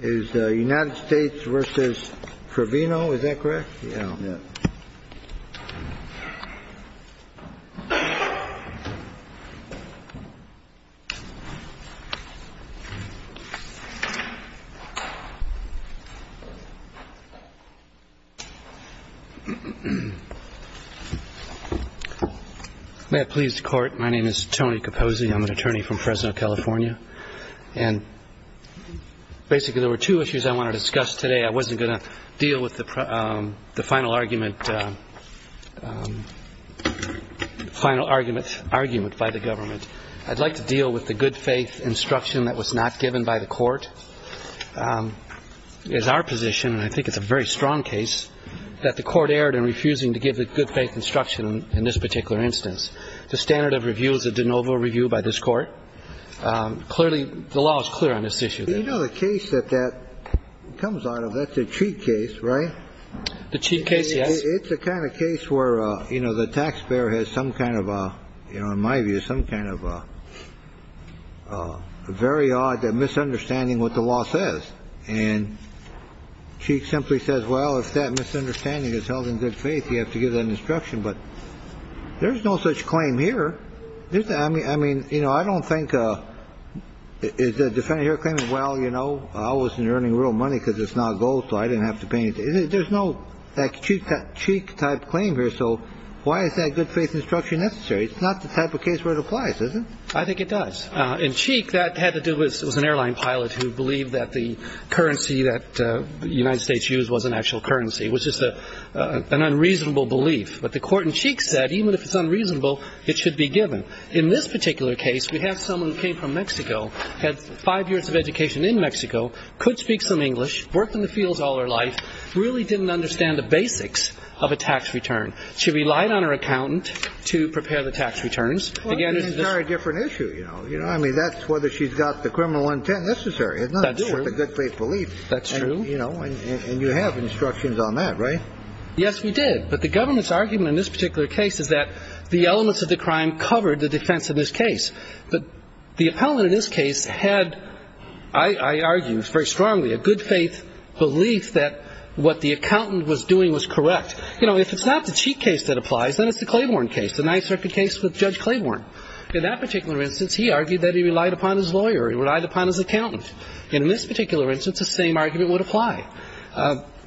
Is the United States versus Trevino, is that correct? Yeah. May it please the court. My name is Tony Kaposi. I'm an attorney from Fresno, California. And basically there were two issues I want to discuss today. I wasn't going to deal with the final argument by the government. I'd like to deal with the good faith instruction that was not given by the court. It is our position, and I think it's a very strong case, that the court erred in refusing to give the good faith instruction in this particular instance. The standard of review is a de novo review by this court. Clearly, the law is clear on this issue. You know the case that that comes out of, that's the Cheek case, right? The Cheek case, yes. It's the kind of case where, you know, the taxpayer has some kind of a, you know, in my view, some kind of a very odd misunderstanding what the law says. And Cheek simply says, well, if that misunderstanding is held in good faith, you have to give that instruction. But there's no such claim here. I mean, you know, I don't think, is the defendant here claiming, well, you know, I wasn't earning real money because it's not gold, so I didn't have to pay anything. There's no Cheek type claim here. So why is that good faith instruction necessary? It's not the type of case where it applies, is it? I think it does. In Cheek, that had to do with an airline pilot who believed that the currency that the United States used was an actual currency, which is an unreasonable belief. But the court in Cheek said, even if it's unreasonable, it should be given. In this particular case, we have someone who came from Mexico, had five years of education in Mexico, could speak some English, worked in the fields all her life, really didn't understand the basics of a tax return. She relied on her accountant to prepare the tax returns. Again, it's a very different issue, you know. I mean, that's whether she's got the criminal intent necessary. It's not just a good faith belief. That's true. You know, and you have instructions on that, right? Yes, we did. But the government's argument in this particular case is that the elements of the crime covered the defense in this case. But the appellant in this case had, I argue very strongly, a good faith belief that what the accountant was doing was correct. You know, if it's not the Cheek case that applies, then it's the Claiborne case, the Ninth Circuit case with Judge Claiborne. In that particular instance, he argued that he relied upon his lawyer. He relied upon his accountant. And in this particular instance, the same argument would apply.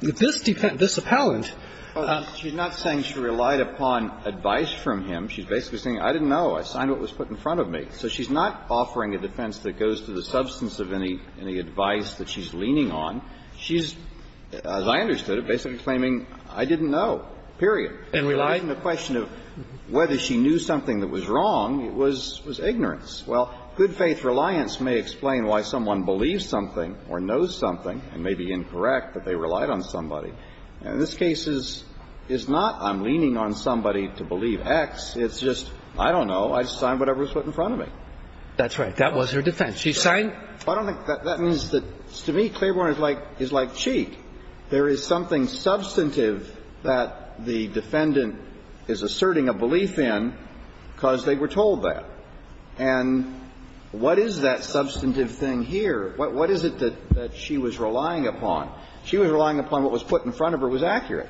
This defendant, this appellant. Well, she's not saying she relied upon advice from him. She's basically saying, I didn't know. I signed what was put in front of me. So she's not offering a defense that goes to the substance of any advice that she's leaning on. She's, as I understood it, basically claiming, I didn't know, period. And relied? And the question of whether she knew something that was wrong was ignorance. Well, good faith reliance may explain why someone believes something or knows something and may be incorrect that they relied on somebody. In this case, it's not I'm leaning on somebody to believe X. It's just, I don't know. I signed whatever was put in front of me. That's right. That was her defense. She signed. I don't think that means that to me Claiborne is like Cheek. There is something substantive that the defendant is asserting a belief in because they were told that. And what is that substantive thing here? What is it that she was relying upon? She was relying upon what was put in front of her was accurate.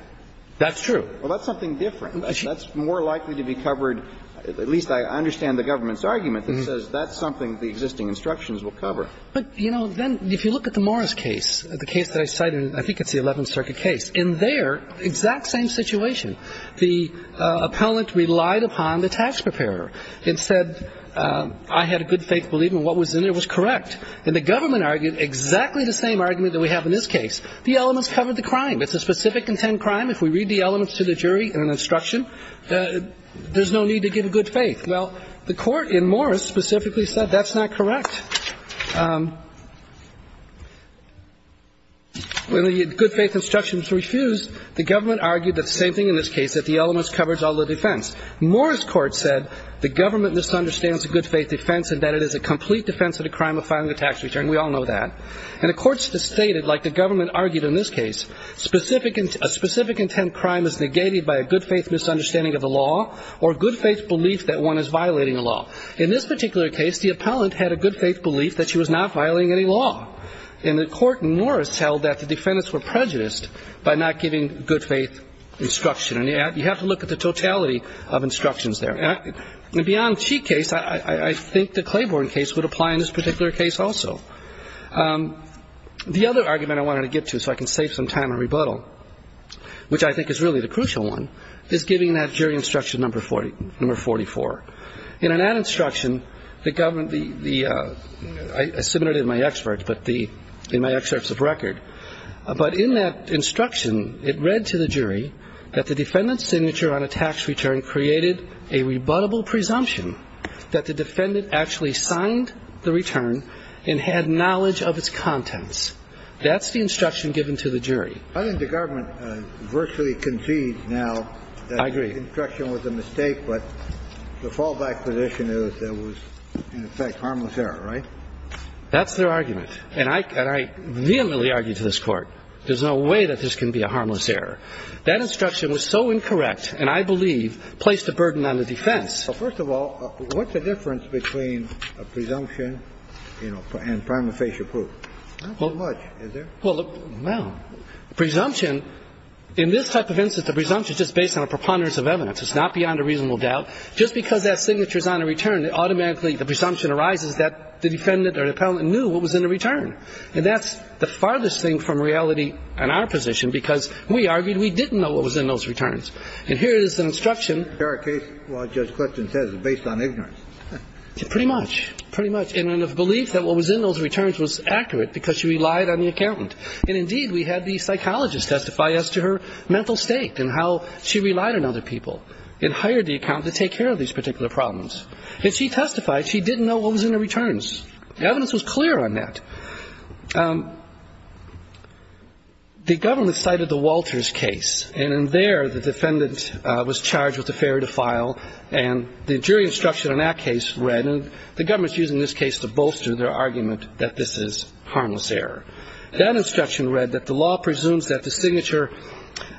That's true. Well, that's something different. That's more likely to be covered. At least I understand the government's argument that says that's something the existing instructions will cover. But, you know, then if you look at the Morris case, the case that I cited, I think it's the Eleventh Circuit case. In there, exact same situation. The appellant relied upon the tax preparer. Instead, I had a good faith belief in what was in there was correct. And the government argued exactly the same argument that we have in this case. The elements covered the crime. It's a specific intent crime. If we read the elements to the jury in an instruction, there's no need to give a good faith. Well, the Court in Morris specifically said that's not correct. When the good faith instructions refused, the government argued the same thing in this case, that the elements covered all the defense. Morris Court said the government misunderstands the good faith defense and that it is a complete defense of the crime of filing a tax return. We all know that. And the Court stated, like the government argued in this case, a specific intent crime is negated by a good faith misunderstanding of the law or good faith belief that one is violating the law. In this particular case, the appellant had a good faith belief that she was not violating any law. And the Court in Morris held that the defendants were prejudiced by not giving good faith instruction. And you have to look at the totality of instructions there. In the Bianchi case, I think the Claiborne case would apply in this particular case also. The other argument I wanted to get to so I can save some time and rebuttal, which I think is really the crucial one, is giving that jury instruction number 44. In that instruction, the government, I submitted it in my excerpts of record. But in that instruction, it read to the jury that the defendant's signature on a tax return created a rebuttable presumption that the defendant actually signed the return and had knowledge of its contents. That's the instruction given to the jury. I think the government virtually concedes now that the instruction was a mistake, but the fallback position is that it was, in effect, harmless error, right? That's their argument. And I vehemently argue to this Court, there's no way that this can be a harmless error. That instruction was so incorrect, and I believe placed a burden on the defense. First of all, what's the difference between a presumption, you know, and prima facie proof? Not so much, is there? Well, presumption, in this type of instance, the presumption is just based on a preponderance of evidence. It's not beyond a reasonable doubt. Just because that signature is on a return, automatically the presumption arises that the defendant or the appellant knew what was in the return. And that's the farthest thing from reality in our position, because we argued we didn't know what was in those returns. And here is an instruction. In our case, what Judge Clifton says is based on ignorance. Pretty much. Pretty much. In a belief that what was in those returns was accurate because she relied on the accountant. And, indeed, we had the psychologist testify as to her mental state and how she relied on other people and hired the accountant to take care of these particular problems. And she testified she didn't know what was in the returns. The evidence was clear on that. The government cited the Walters case. And in there, the defendant was charged with a failure to file. And the jury instruction on that case read, and the government is using this case to bolster their argument that this is harmless error. That instruction read that the law presumes that the signature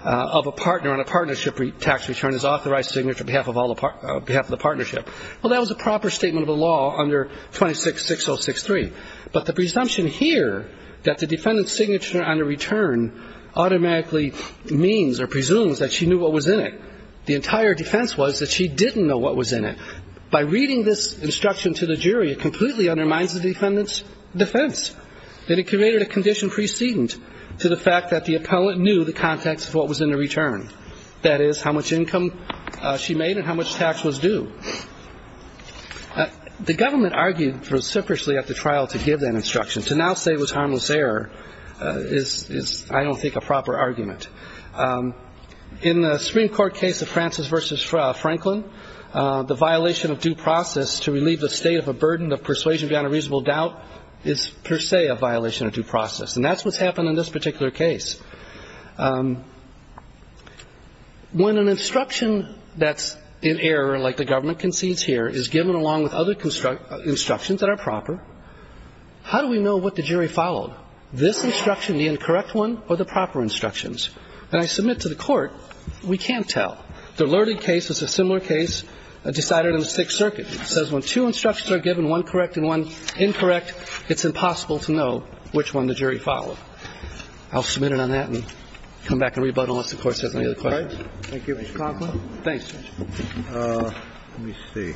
of a partner on a partnership tax return is authorized signature on behalf of the partnership. Well, that was a proper statement of the law under 26-6063. But the presumption here that the defendant's signature on the return automatically means or presumes that she knew what was in it. The entire defense was that she didn't know what was in it. By reading this instruction to the jury, it completely undermines the defendant's defense. That it created a condition precedent to the fact that the appellant knew the context of what was in the return. That is, how much income she made and how much tax was due. The government argued vociferously at the trial to give that instruction. To now say it was harmless error is, I don't think, a proper argument. In the Supreme Court case of Francis v. Franklin, the violation of due process to relieve the state of a burden of persuasion beyond a reasonable doubt is per se a violation of due process. And that's what's happened in this particular case. When an instruction that's in error, like the government concedes here, is given along with other instructions that are proper, how do we know what the jury followed, this instruction, the incorrect one, or the proper instructions? When I submit to the Court, we can't tell. The Lerding case is a similar case decided in the Sixth Circuit. It says when two instructions are given, one correct and one incorrect, it's impossible to know which one the jury followed. I'll submit it on that basis. Thank you, Mr. Conklin. Thank you. Let me see.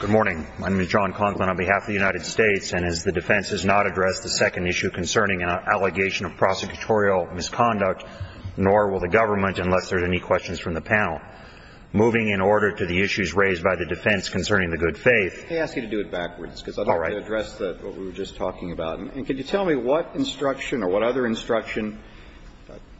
Good morning. My name is John Conklin on behalf of the United States. And as the defense has not addressed the second issue concerning an allegation of prosecutorial misconduct, nor will the government unless there are any questions from the panel. Moving in order to the issues raised by the defense concerning the good faith. They ask you to do it backwards. All right. I want to address what we were just talking about. And can you tell me what instruction or what other instruction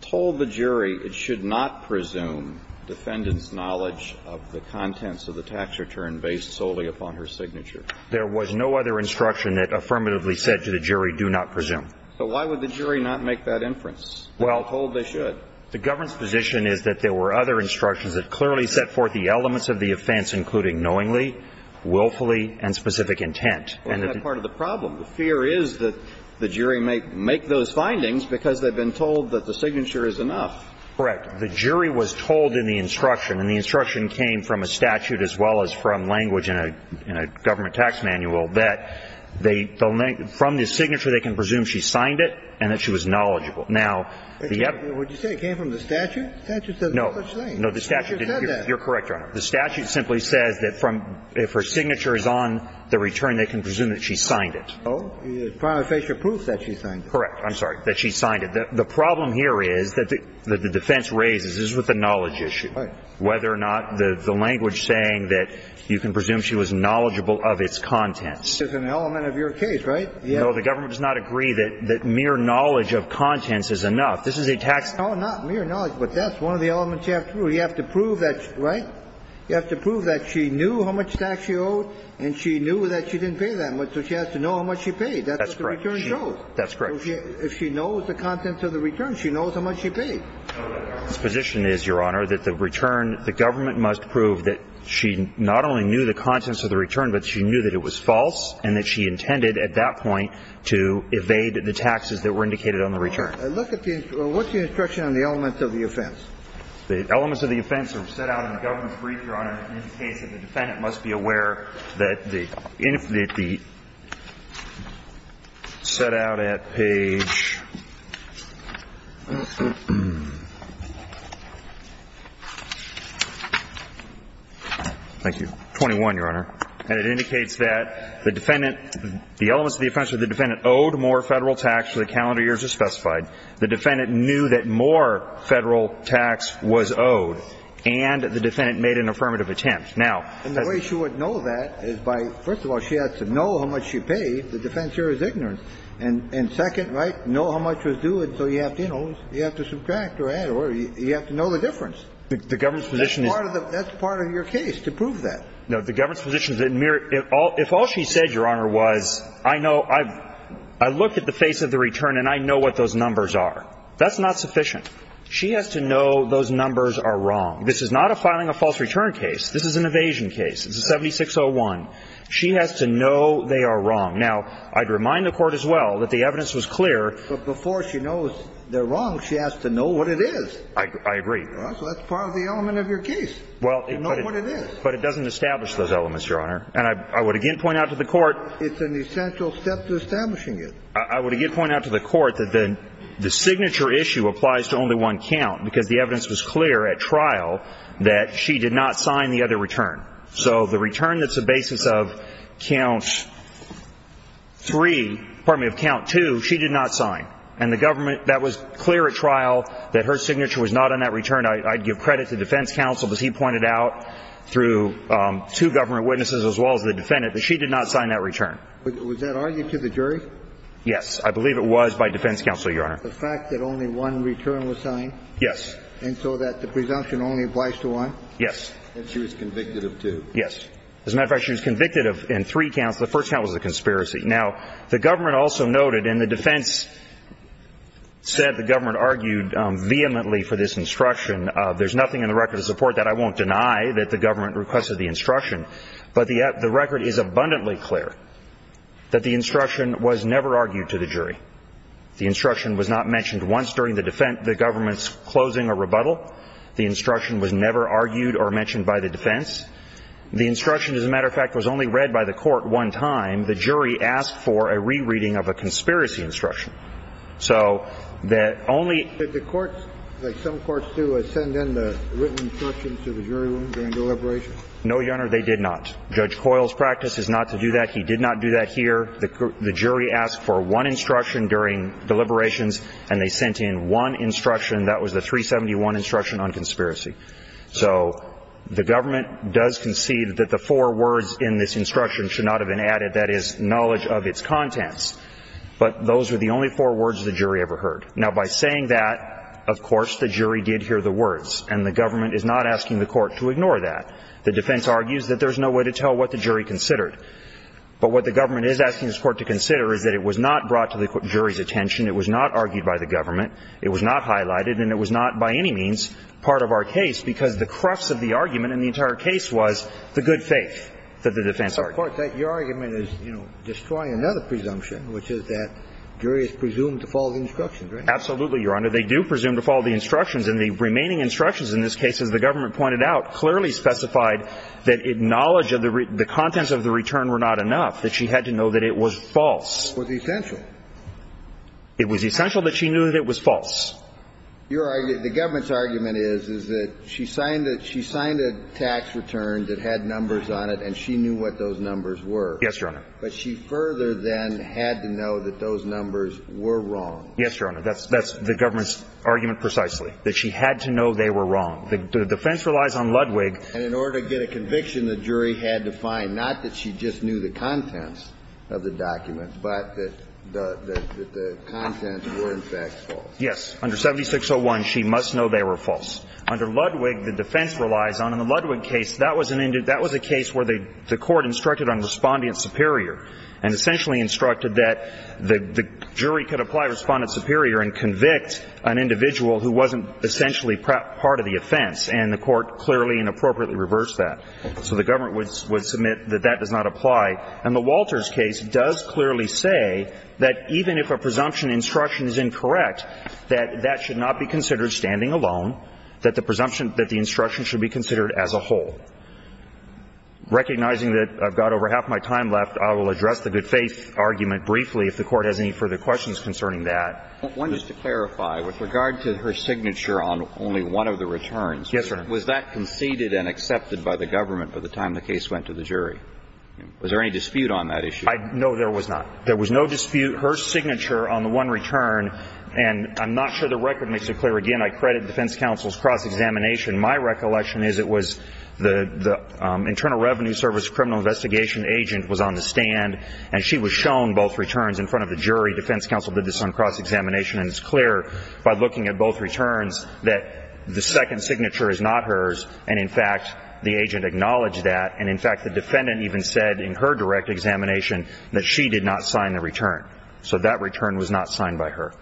told the jury it should not presume defendant's knowledge of the contents of the tax return based solely upon her signature? There was no other instruction that affirmatively said to the jury, do not presume. So why would the jury not make that inference? Well, the government's position is that there were other instructions that clearly set forth the elements of the offense, including knowingly, willfully, and specific intent. Isn't that part of the problem? The fear is that the jury may make those findings because they've been told that the signature is enough. Correct. The jury was told in the instruction. And the instruction came from a statute as well as from language in a government tax manual that from the signature they can presume she signed it and that she was knowledgeable. Now, the other one. Would you say it came from the statute? No. No, the statute didn't. You're correct, Your Honor. The statute simply says that from, if her signature is on the return, they can presume that she signed it. No. It's prima facie proof that she signed it. Correct. I'm sorry. That she signed it. The problem here is that the defense raises, this is with the knowledge issue, whether or not the language saying that you can presume she was knowledgeable of its contents. It's an element of your case, right? No, the government does not agree that mere knowledge of contents is enough. This is a tax. No, not mere knowledge. But that's one of the elements you have to prove. You have to prove that, right? You have to prove that she knew how much tax she owed and she knew that she didn't pay that much. So she has to know how much she paid. That's what the return shows. That's correct. That's correct. If she knows the contents of the return, she knows how much she paid. Its position is, Your Honor, that the return, the government must prove that she not only knew the contents of the return, but she knew that it was false and that she intended at that point to evade the taxes that were indicated on the return. Look at the, what's the instruction on the elements of the offense? The elements of the offense are set out in the government's brief, Your Honor. It indicates that the defendant must be aware that the, set out at page 21, Your Honor. And it indicates that the defendant, the elements of the offense that the defendant owed more Federal tax to the calendar years as specified. The defendant knew that more Federal tax was owed. And the defendant made an affirmative attempt. Now. And the way she would know that is by, first of all, she has to know how much she paid. The defense here is ignorant. And second, right, know how much was due, and so you have to, you know, you have to subtract or add or whatever. You have to know the difference. The government's position is. That's part of your case to prove that. The government's position is that if all she said, Your Honor, was, I know, I've And I know what those numbers are. That's not sufficient. She has to know those numbers are wrong. This is not a filing a false return case. This is an evasion case. It's a 7601. She has to know they are wrong. Now, I'd remind the Court as well that the evidence was clear. But before she knows they're wrong, she has to know what it is. I agree. So that's part of the element of your case. Well. To know what it is. But it doesn't establish those elements, Your Honor. And I would again point out to the Court. It's an essential step to establishing it. I would again point out to the Court that the signature issue applies to only one count. Because the evidence was clear at trial that she did not sign the other return. So the return that's the basis of count three. Pardon me, of count two. She did not sign. And the government. That was clear at trial that her signature was not on that return. I'd give credit to defense counsel. Because he pointed out through two government witnesses as well as the defendant. That she did not sign that return. Was that argued to the jury? Yes. I believe it was by defense counsel, Your Honor. The fact that only one return was signed. Yes. And so that the presumption only applies to one? Yes. And she was convicted of two. Yes. As a matter of fact, she was convicted in three counts. The first count was a conspiracy. Now, the government also noted. And the defense said the government argued vehemently for this instruction. There's nothing in the record to support that. I won't deny that the government requested the instruction. But the record is abundantly clear that the instruction was never argued to the jury. The instruction was not mentioned once during the government's closing or rebuttal. The instruction was never argued or mentioned by the defense. The instruction, as a matter of fact, was only read by the court one time. The jury asked for a rereading of a conspiracy instruction. So that only. Did the courts, like some courts do, send in the written instructions to the jury room during deliberation? No, Your Honor, they did not. Judge Coyle's practice is not to do that. He did not do that here. The jury asked for one instruction during deliberations, and they sent in one instruction. That was the 371 instruction on conspiracy. So the government does concede that the four words in this instruction should not have been added. That is, knowledge of its contents. But those were the only four words the jury ever heard. Now, by saying that, of course, the jury did hear the words. And the government is not asking the court to ignore that. The defense argues that there's no way to tell what the jury considered. But what the government is asking this Court to consider is that it was not brought to the jury's attention, it was not argued by the government, it was not highlighted, and it was not by any means part of our case because the crux of the argument in the entire case was the good faith that the defense argued. Your argument is, you know, destroying another presumption, which is that jury is presumed to follow the instructions, right? Absolutely, Your Honor. They do presume to follow the instructions, and the remaining instructions in this case, as the government pointed out, clearly specified that knowledge of the contents of the return were not enough, that she had to know that it was false. It was essential. It was essential that she knew that it was false. The government's argument is, is that she signed a tax return that had numbers on it, and she knew what those numbers were. Yes, Your Honor. But she further then had to know that those numbers were wrong. Yes, Your Honor. That's the government's argument precisely. That she had to know they were wrong. The defense relies on Ludwig. And in order to get a conviction, the jury had to find not that she just knew the contents of the document, but that the contents were, in fact, false. Yes. Under 7601, she must know they were false. Under Ludwig, the defense relies on the Ludwig case. That was a case where the court instructed on Respondent Superior and essentially instructed that the jury could apply Respondent Superior and convict an individual who wasn't essentially part of the offense. And the court clearly and appropriately reversed that. So the government would submit that that does not apply. And the Walters case does clearly say that even if a presumption instruction is incorrect, that that should not be considered standing alone, that the presumption that the instruction should be considered as a whole. Recognizing that I've got over half my time left, I will address the good faith argument briefly if the Court has any further questions concerning that. One, just to clarify, with regard to her signature on only one of the returns. Yes, sir. Was that conceded and accepted by the government by the time the case went to the jury? Was there any dispute on that issue? No, there was not. There was no dispute. Her signature on the one return, and I'm not sure the record makes it clear. Again, I credit defense counsel's cross-examination. My recollection is it was the Internal Revenue Service criminal investigation agent was on the stand, and she was shown both returns in front of the jury. Defense counsel did this on cross-examination, and it's clear by looking at both returns that the second signature is not hers, and in fact, the agent acknowledged that. And in fact, the defendant even said in her direct examination that she did not sign the return. So that return was not signed by her.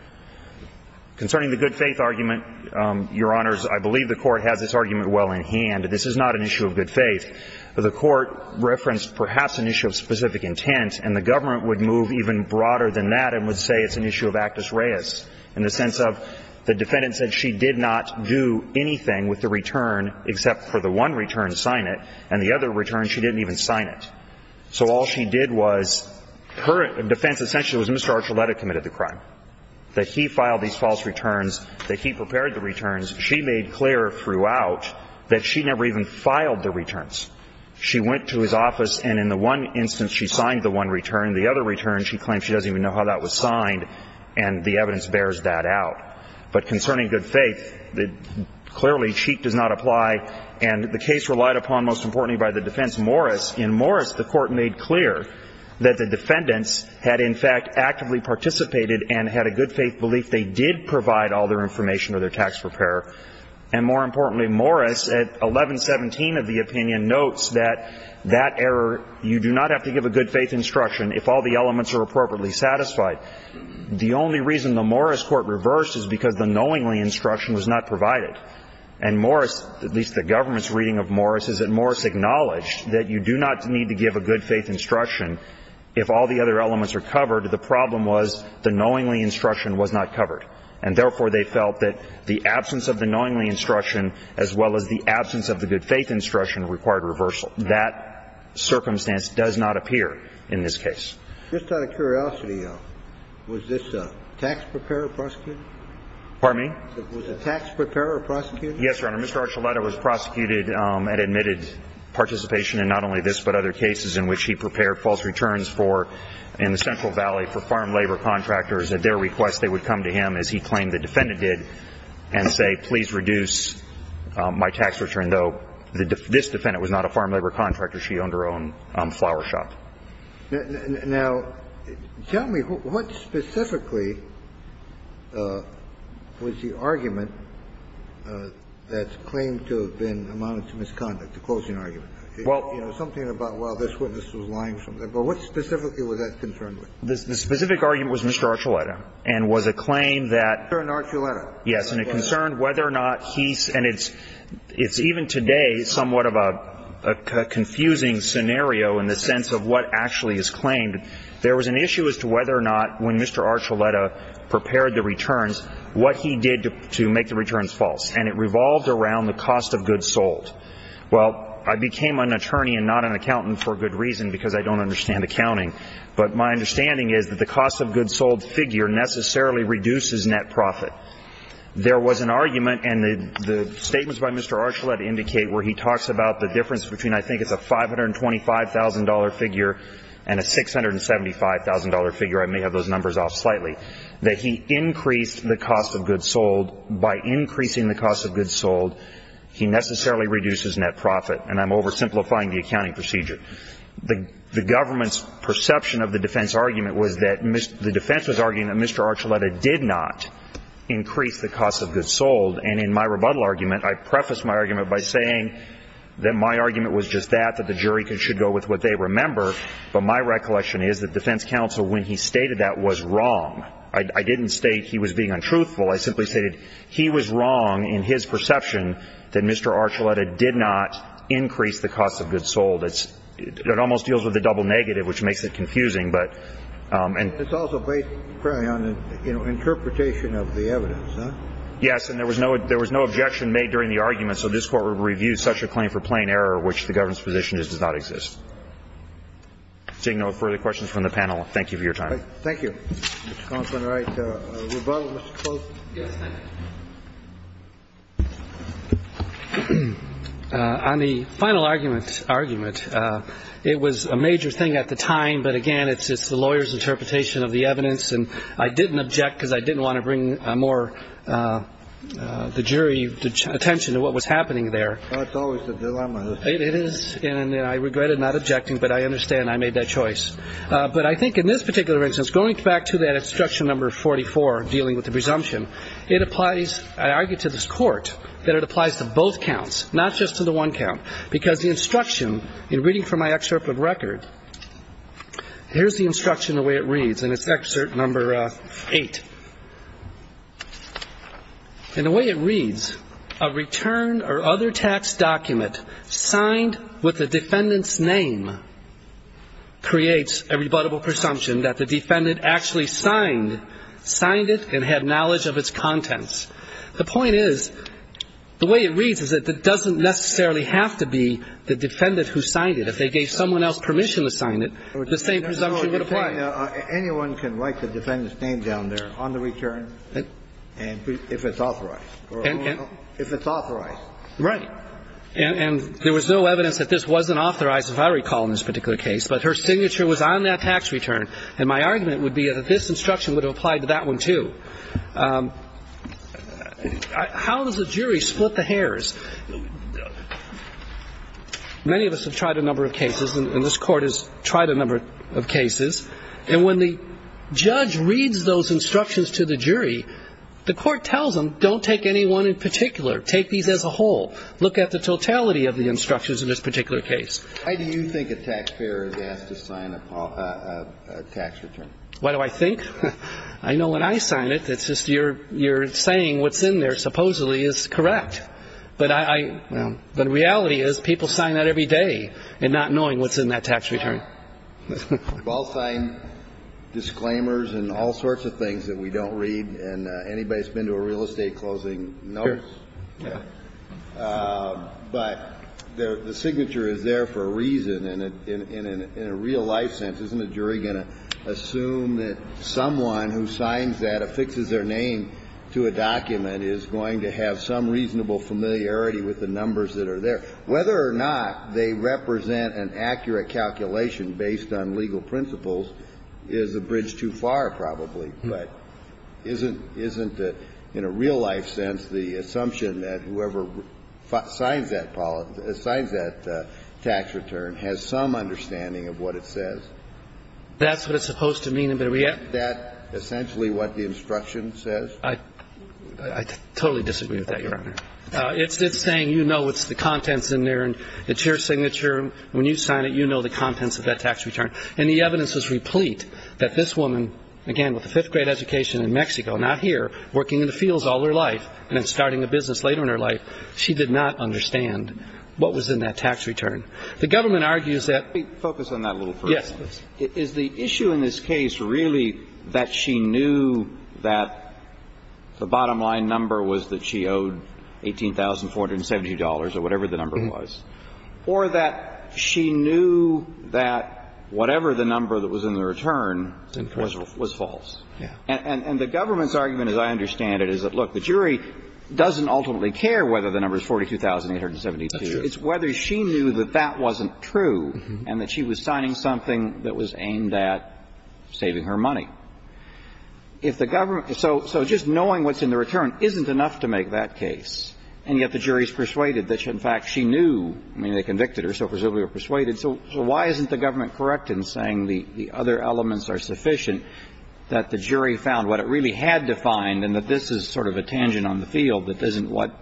Concerning the good faith argument, Your Honors, I believe the Court has this argument well in hand. This is not an issue of good faith. The Court referenced perhaps an issue of specific intent, and the government would move even broader than that and would say it's an issue of actus reus, in the sense of the defendant said she did not do anything with the return except for the one return to sign it, and the other return she didn't even sign it. So all she did was her defense essentially was Mr. Archuleta committed the crime, that he filed these false returns, that he prepared the returns. She made clear throughout that she never even filed the returns. She went to his office and in the one instance she signed the one return, the other return she claims she doesn't even know how that was signed, and the evidence bears that out. But concerning good faith, clearly, cheat does not apply, and the case relied upon most importantly by the defense Morris. In Morris, the Court made clear that the defendants had in fact actively participated and had a good faith belief they did provide all their information or their tax preparer. And more importantly, Morris at 1117 of the opinion notes that that error, you do not have to give a good faith instruction if all the elements are appropriately satisfied. The only reason the Morris Court reversed is because the knowingly instruction was not provided. And Morris, at least the government's reading of Morris, is that Morris acknowledged that you do not need to give a good faith instruction if all the other elements are covered. The problem was the knowingly instruction was not covered. And therefore, they felt that the absence of the knowingly instruction as well as the absence of the good faith instruction required reversal. That circumstance does not appear in this case. Just out of curiosity, though, was this tax preparer prosecuted? Pardon me? Was the tax preparer prosecuted? Yes, Your Honor. Mr. Archuleta was prosecuted and admitted participation in not only this but other cases in which he prepared false returns for in the Central Valley for farm labor contractors at their request. They would come to him, as he claimed the defendant did, and say, please reduce my tax return, though this defendant was not a farm labor contractor. She owned her own flower shop. Now, tell me, what specifically was the argument that's claimed to have been amounted to misconduct, the closing argument? Well, you know, something about, well, this witness was lying. But what specifically was that concerned with? The specific argument was Mr. Archuleta and was a claim that… Mr. Archuleta. Yes. And it concerned whether or not he's… and it's even today somewhat of a confusing scenario in the sense of what actually is claimed. There was an issue as to whether or not, when Mr. Archuleta prepared the returns, what he did to make the returns false. And it revolved around the cost of goods sold. Well, I became an attorney and not an accountant for good reason because I don't understand accounting. But my understanding is that the cost of goods sold figure necessarily reduces net profit. There was an argument, and the statements by Mr. Archuleta indicate where he talks about the difference between I think it's a $525,000 figure and a $675,000 figure – I may have those numbers off slightly – that he increased the cost of goods sold. By increasing the cost of goods sold, he necessarily reduces net profit. And I'm oversimplifying the accounting procedure. The government's perception of the defense argument was that – the defense was arguing that Mr. Archuleta did not increase the cost of goods sold. And in my rebuttal argument, I prefaced my argument by saying that my argument was just that, that the jury should go with what they remember. But my recollection is that defense counsel, when he stated that, was wrong. I didn't state he was being untruthful. I simply stated he was wrong in his perception that Mr. Archuleta did not increase the cost of goods sold. It's – it almost deals with the double negative, which makes it confusing. But – and – It's also based on the, you know, interpretation of the evidence, huh? Yes. And there was no – there was no objection made during the argument. So this Court would review such a claim for plain error, which the government's position is does not exist. Seeing no further questions from the panel, thank you for your time. Thank you, Mr. Counsel. All right. Rebuttal, Mr. Close? Yes, thank you. On the final argument, it was a major thing at the time. But, again, it's the lawyer's interpretation of the evidence. And I didn't object because I didn't want to bring more – the jury attention to what was happening there. That's always the dilemma. It is. And I regretted not objecting. But I understand I made that choice. But I think in this particular instance, going back to that instruction number 44, dealing with the presumption, it applies – I argue to this Court that it applies to both counts, not just to the one count. Because the instruction, in reading from my excerpt of record, here's the instruction, the way it reads, and it's excerpt number 8. In the way it reads, a return or other tax document signed with the defendant's name creates a rebuttable presumption that the defendant actually signed it and had knowledge of its contents. The point is, the way it reads is that it doesn't necessarily have to be the defendant who signed it. If they gave someone else permission to sign it, the same presumption would apply. Anyone can write the defendant's name down there on the return if it's authorized. If it's authorized. Right. And there was no evidence that this wasn't authorized, if I recall, in this particular case. But her signature was on that tax return. And my argument would be that this instruction would apply to that one, too. How does the jury split the hairs? Many of us have tried a number of cases, and this Court has tried a number of cases. And when the judge reads those instructions to the jury, the Court tells them, don't take any one in particular. Take these as a whole. Look at the totality of the instructions in this particular case. Why do you think a taxpayer is asked to sign a tax return? Why do I think? I know when I sign it, it's just you're saying what's in there supposedly is correct. But I – the reality is people sign that every day and not knowing what's in that tax return. We've all signed disclaimers and all sorts of things that we don't read. And anybody that's been to a real estate closing knows. Sure. Yeah. But the signature is there for a reason. And in a real-life sense, isn't a jury going to assume that someone who signs that, affixes their name to a document, is going to have some reasonable familiarity with the numbers that are there? Whether or not they represent an accurate calculation based on legal principles is a bridge too far, probably. But isn't in a real-life sense the assumption that whoever signs that tax return has some understanding of what it says? That's what it's supposed to mean. Isn't that essentially what the instruction says? I totally disagree with that, Your Honor. It's saying you know what's the contents in there and it's your signature. When you sign it, you know the contents of that tax return. And the evidence is replete that this woman, again, with a fifth-grade education in Mexico, not here, working in the fields all her life and then starting a business later in her life, she did not understand what was in that tax return. The government argues that ---- Let me focus on that a little first. Yes. Is the issue in this case really that she knew that the bottom-line number was that she owed $18,470 or whatever the number was, or that she knew that whatever the number that was in the return was false? Yeah. And the government's argument, as I understand it, is that, look, the jury doesn't ultimately care whether the number is $42,872. That's true. It's whether she knew that that wasn't true and that she was signing something that was aimed at saving her money. If the government ---- so just knowing what's in the return isn't enough to make that case, and yet the jury is persuaded that, in fact, she knew, I mean, they convicted her, so presumably they were persuaded. So why isn't the government correct in saying the other elements are sufficient, that the jury found what it really had defined and that this is sort of a tangent on the field that isn't what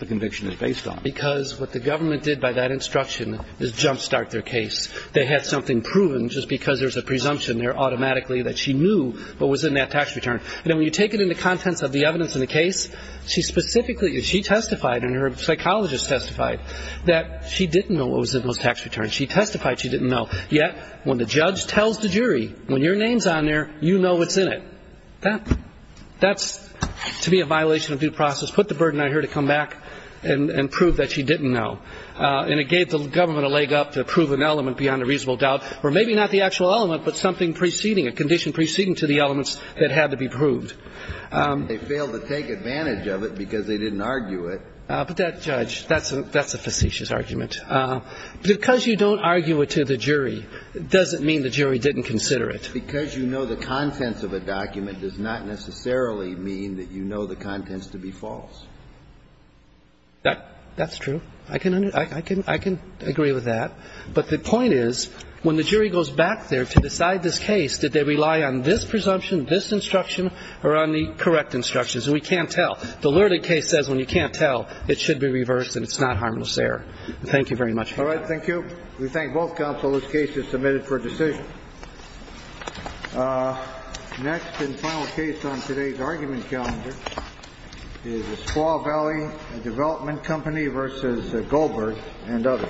the conviction is based on? Because what the government did by that instruction is jumpstart their case. They had something proven just because there's a presumption there automatically that she knew what was in that tax return. And then when you take it into contents of the evidence in the case, she specifically ---- she testified and her psychologist testified that she didn't know what was in those tax returns. She testified she didn't know. Yet when the judge tells the jury, when your name's on there, you know what's in it. That's to me a violation of due process. Put the burden on her to come back and prove that she didn't know. And it gave the government a leg up to prove an element beyond a reasonable doubt, or maybe not the actual element but something preceding, a condition preceding to the conclusion that she had proved. They failed to take advantage of it because they didn't argue it. But that, Judge, that's a facetious argument. Because you don't argue it to the jury doesn't mean the jury didn't consider it. Because you know the contents of a document does not necessarily mean that you know the contents to be false. That's true. I can agree with that. But the point is when the jury goes back there to decide this case, did they rely on this presumption, this instruction, or on the correct instructions? And we can't tell. The lurid case says when you can't tell, it should be reversed and it's not harmless error. Thank you very much. All right. Thank you. We thank both counsel. This case is submitted for decision. Next and final case on today's argument calendar is the Squaw Valley Development Company v. Goldberg and others. Thank you.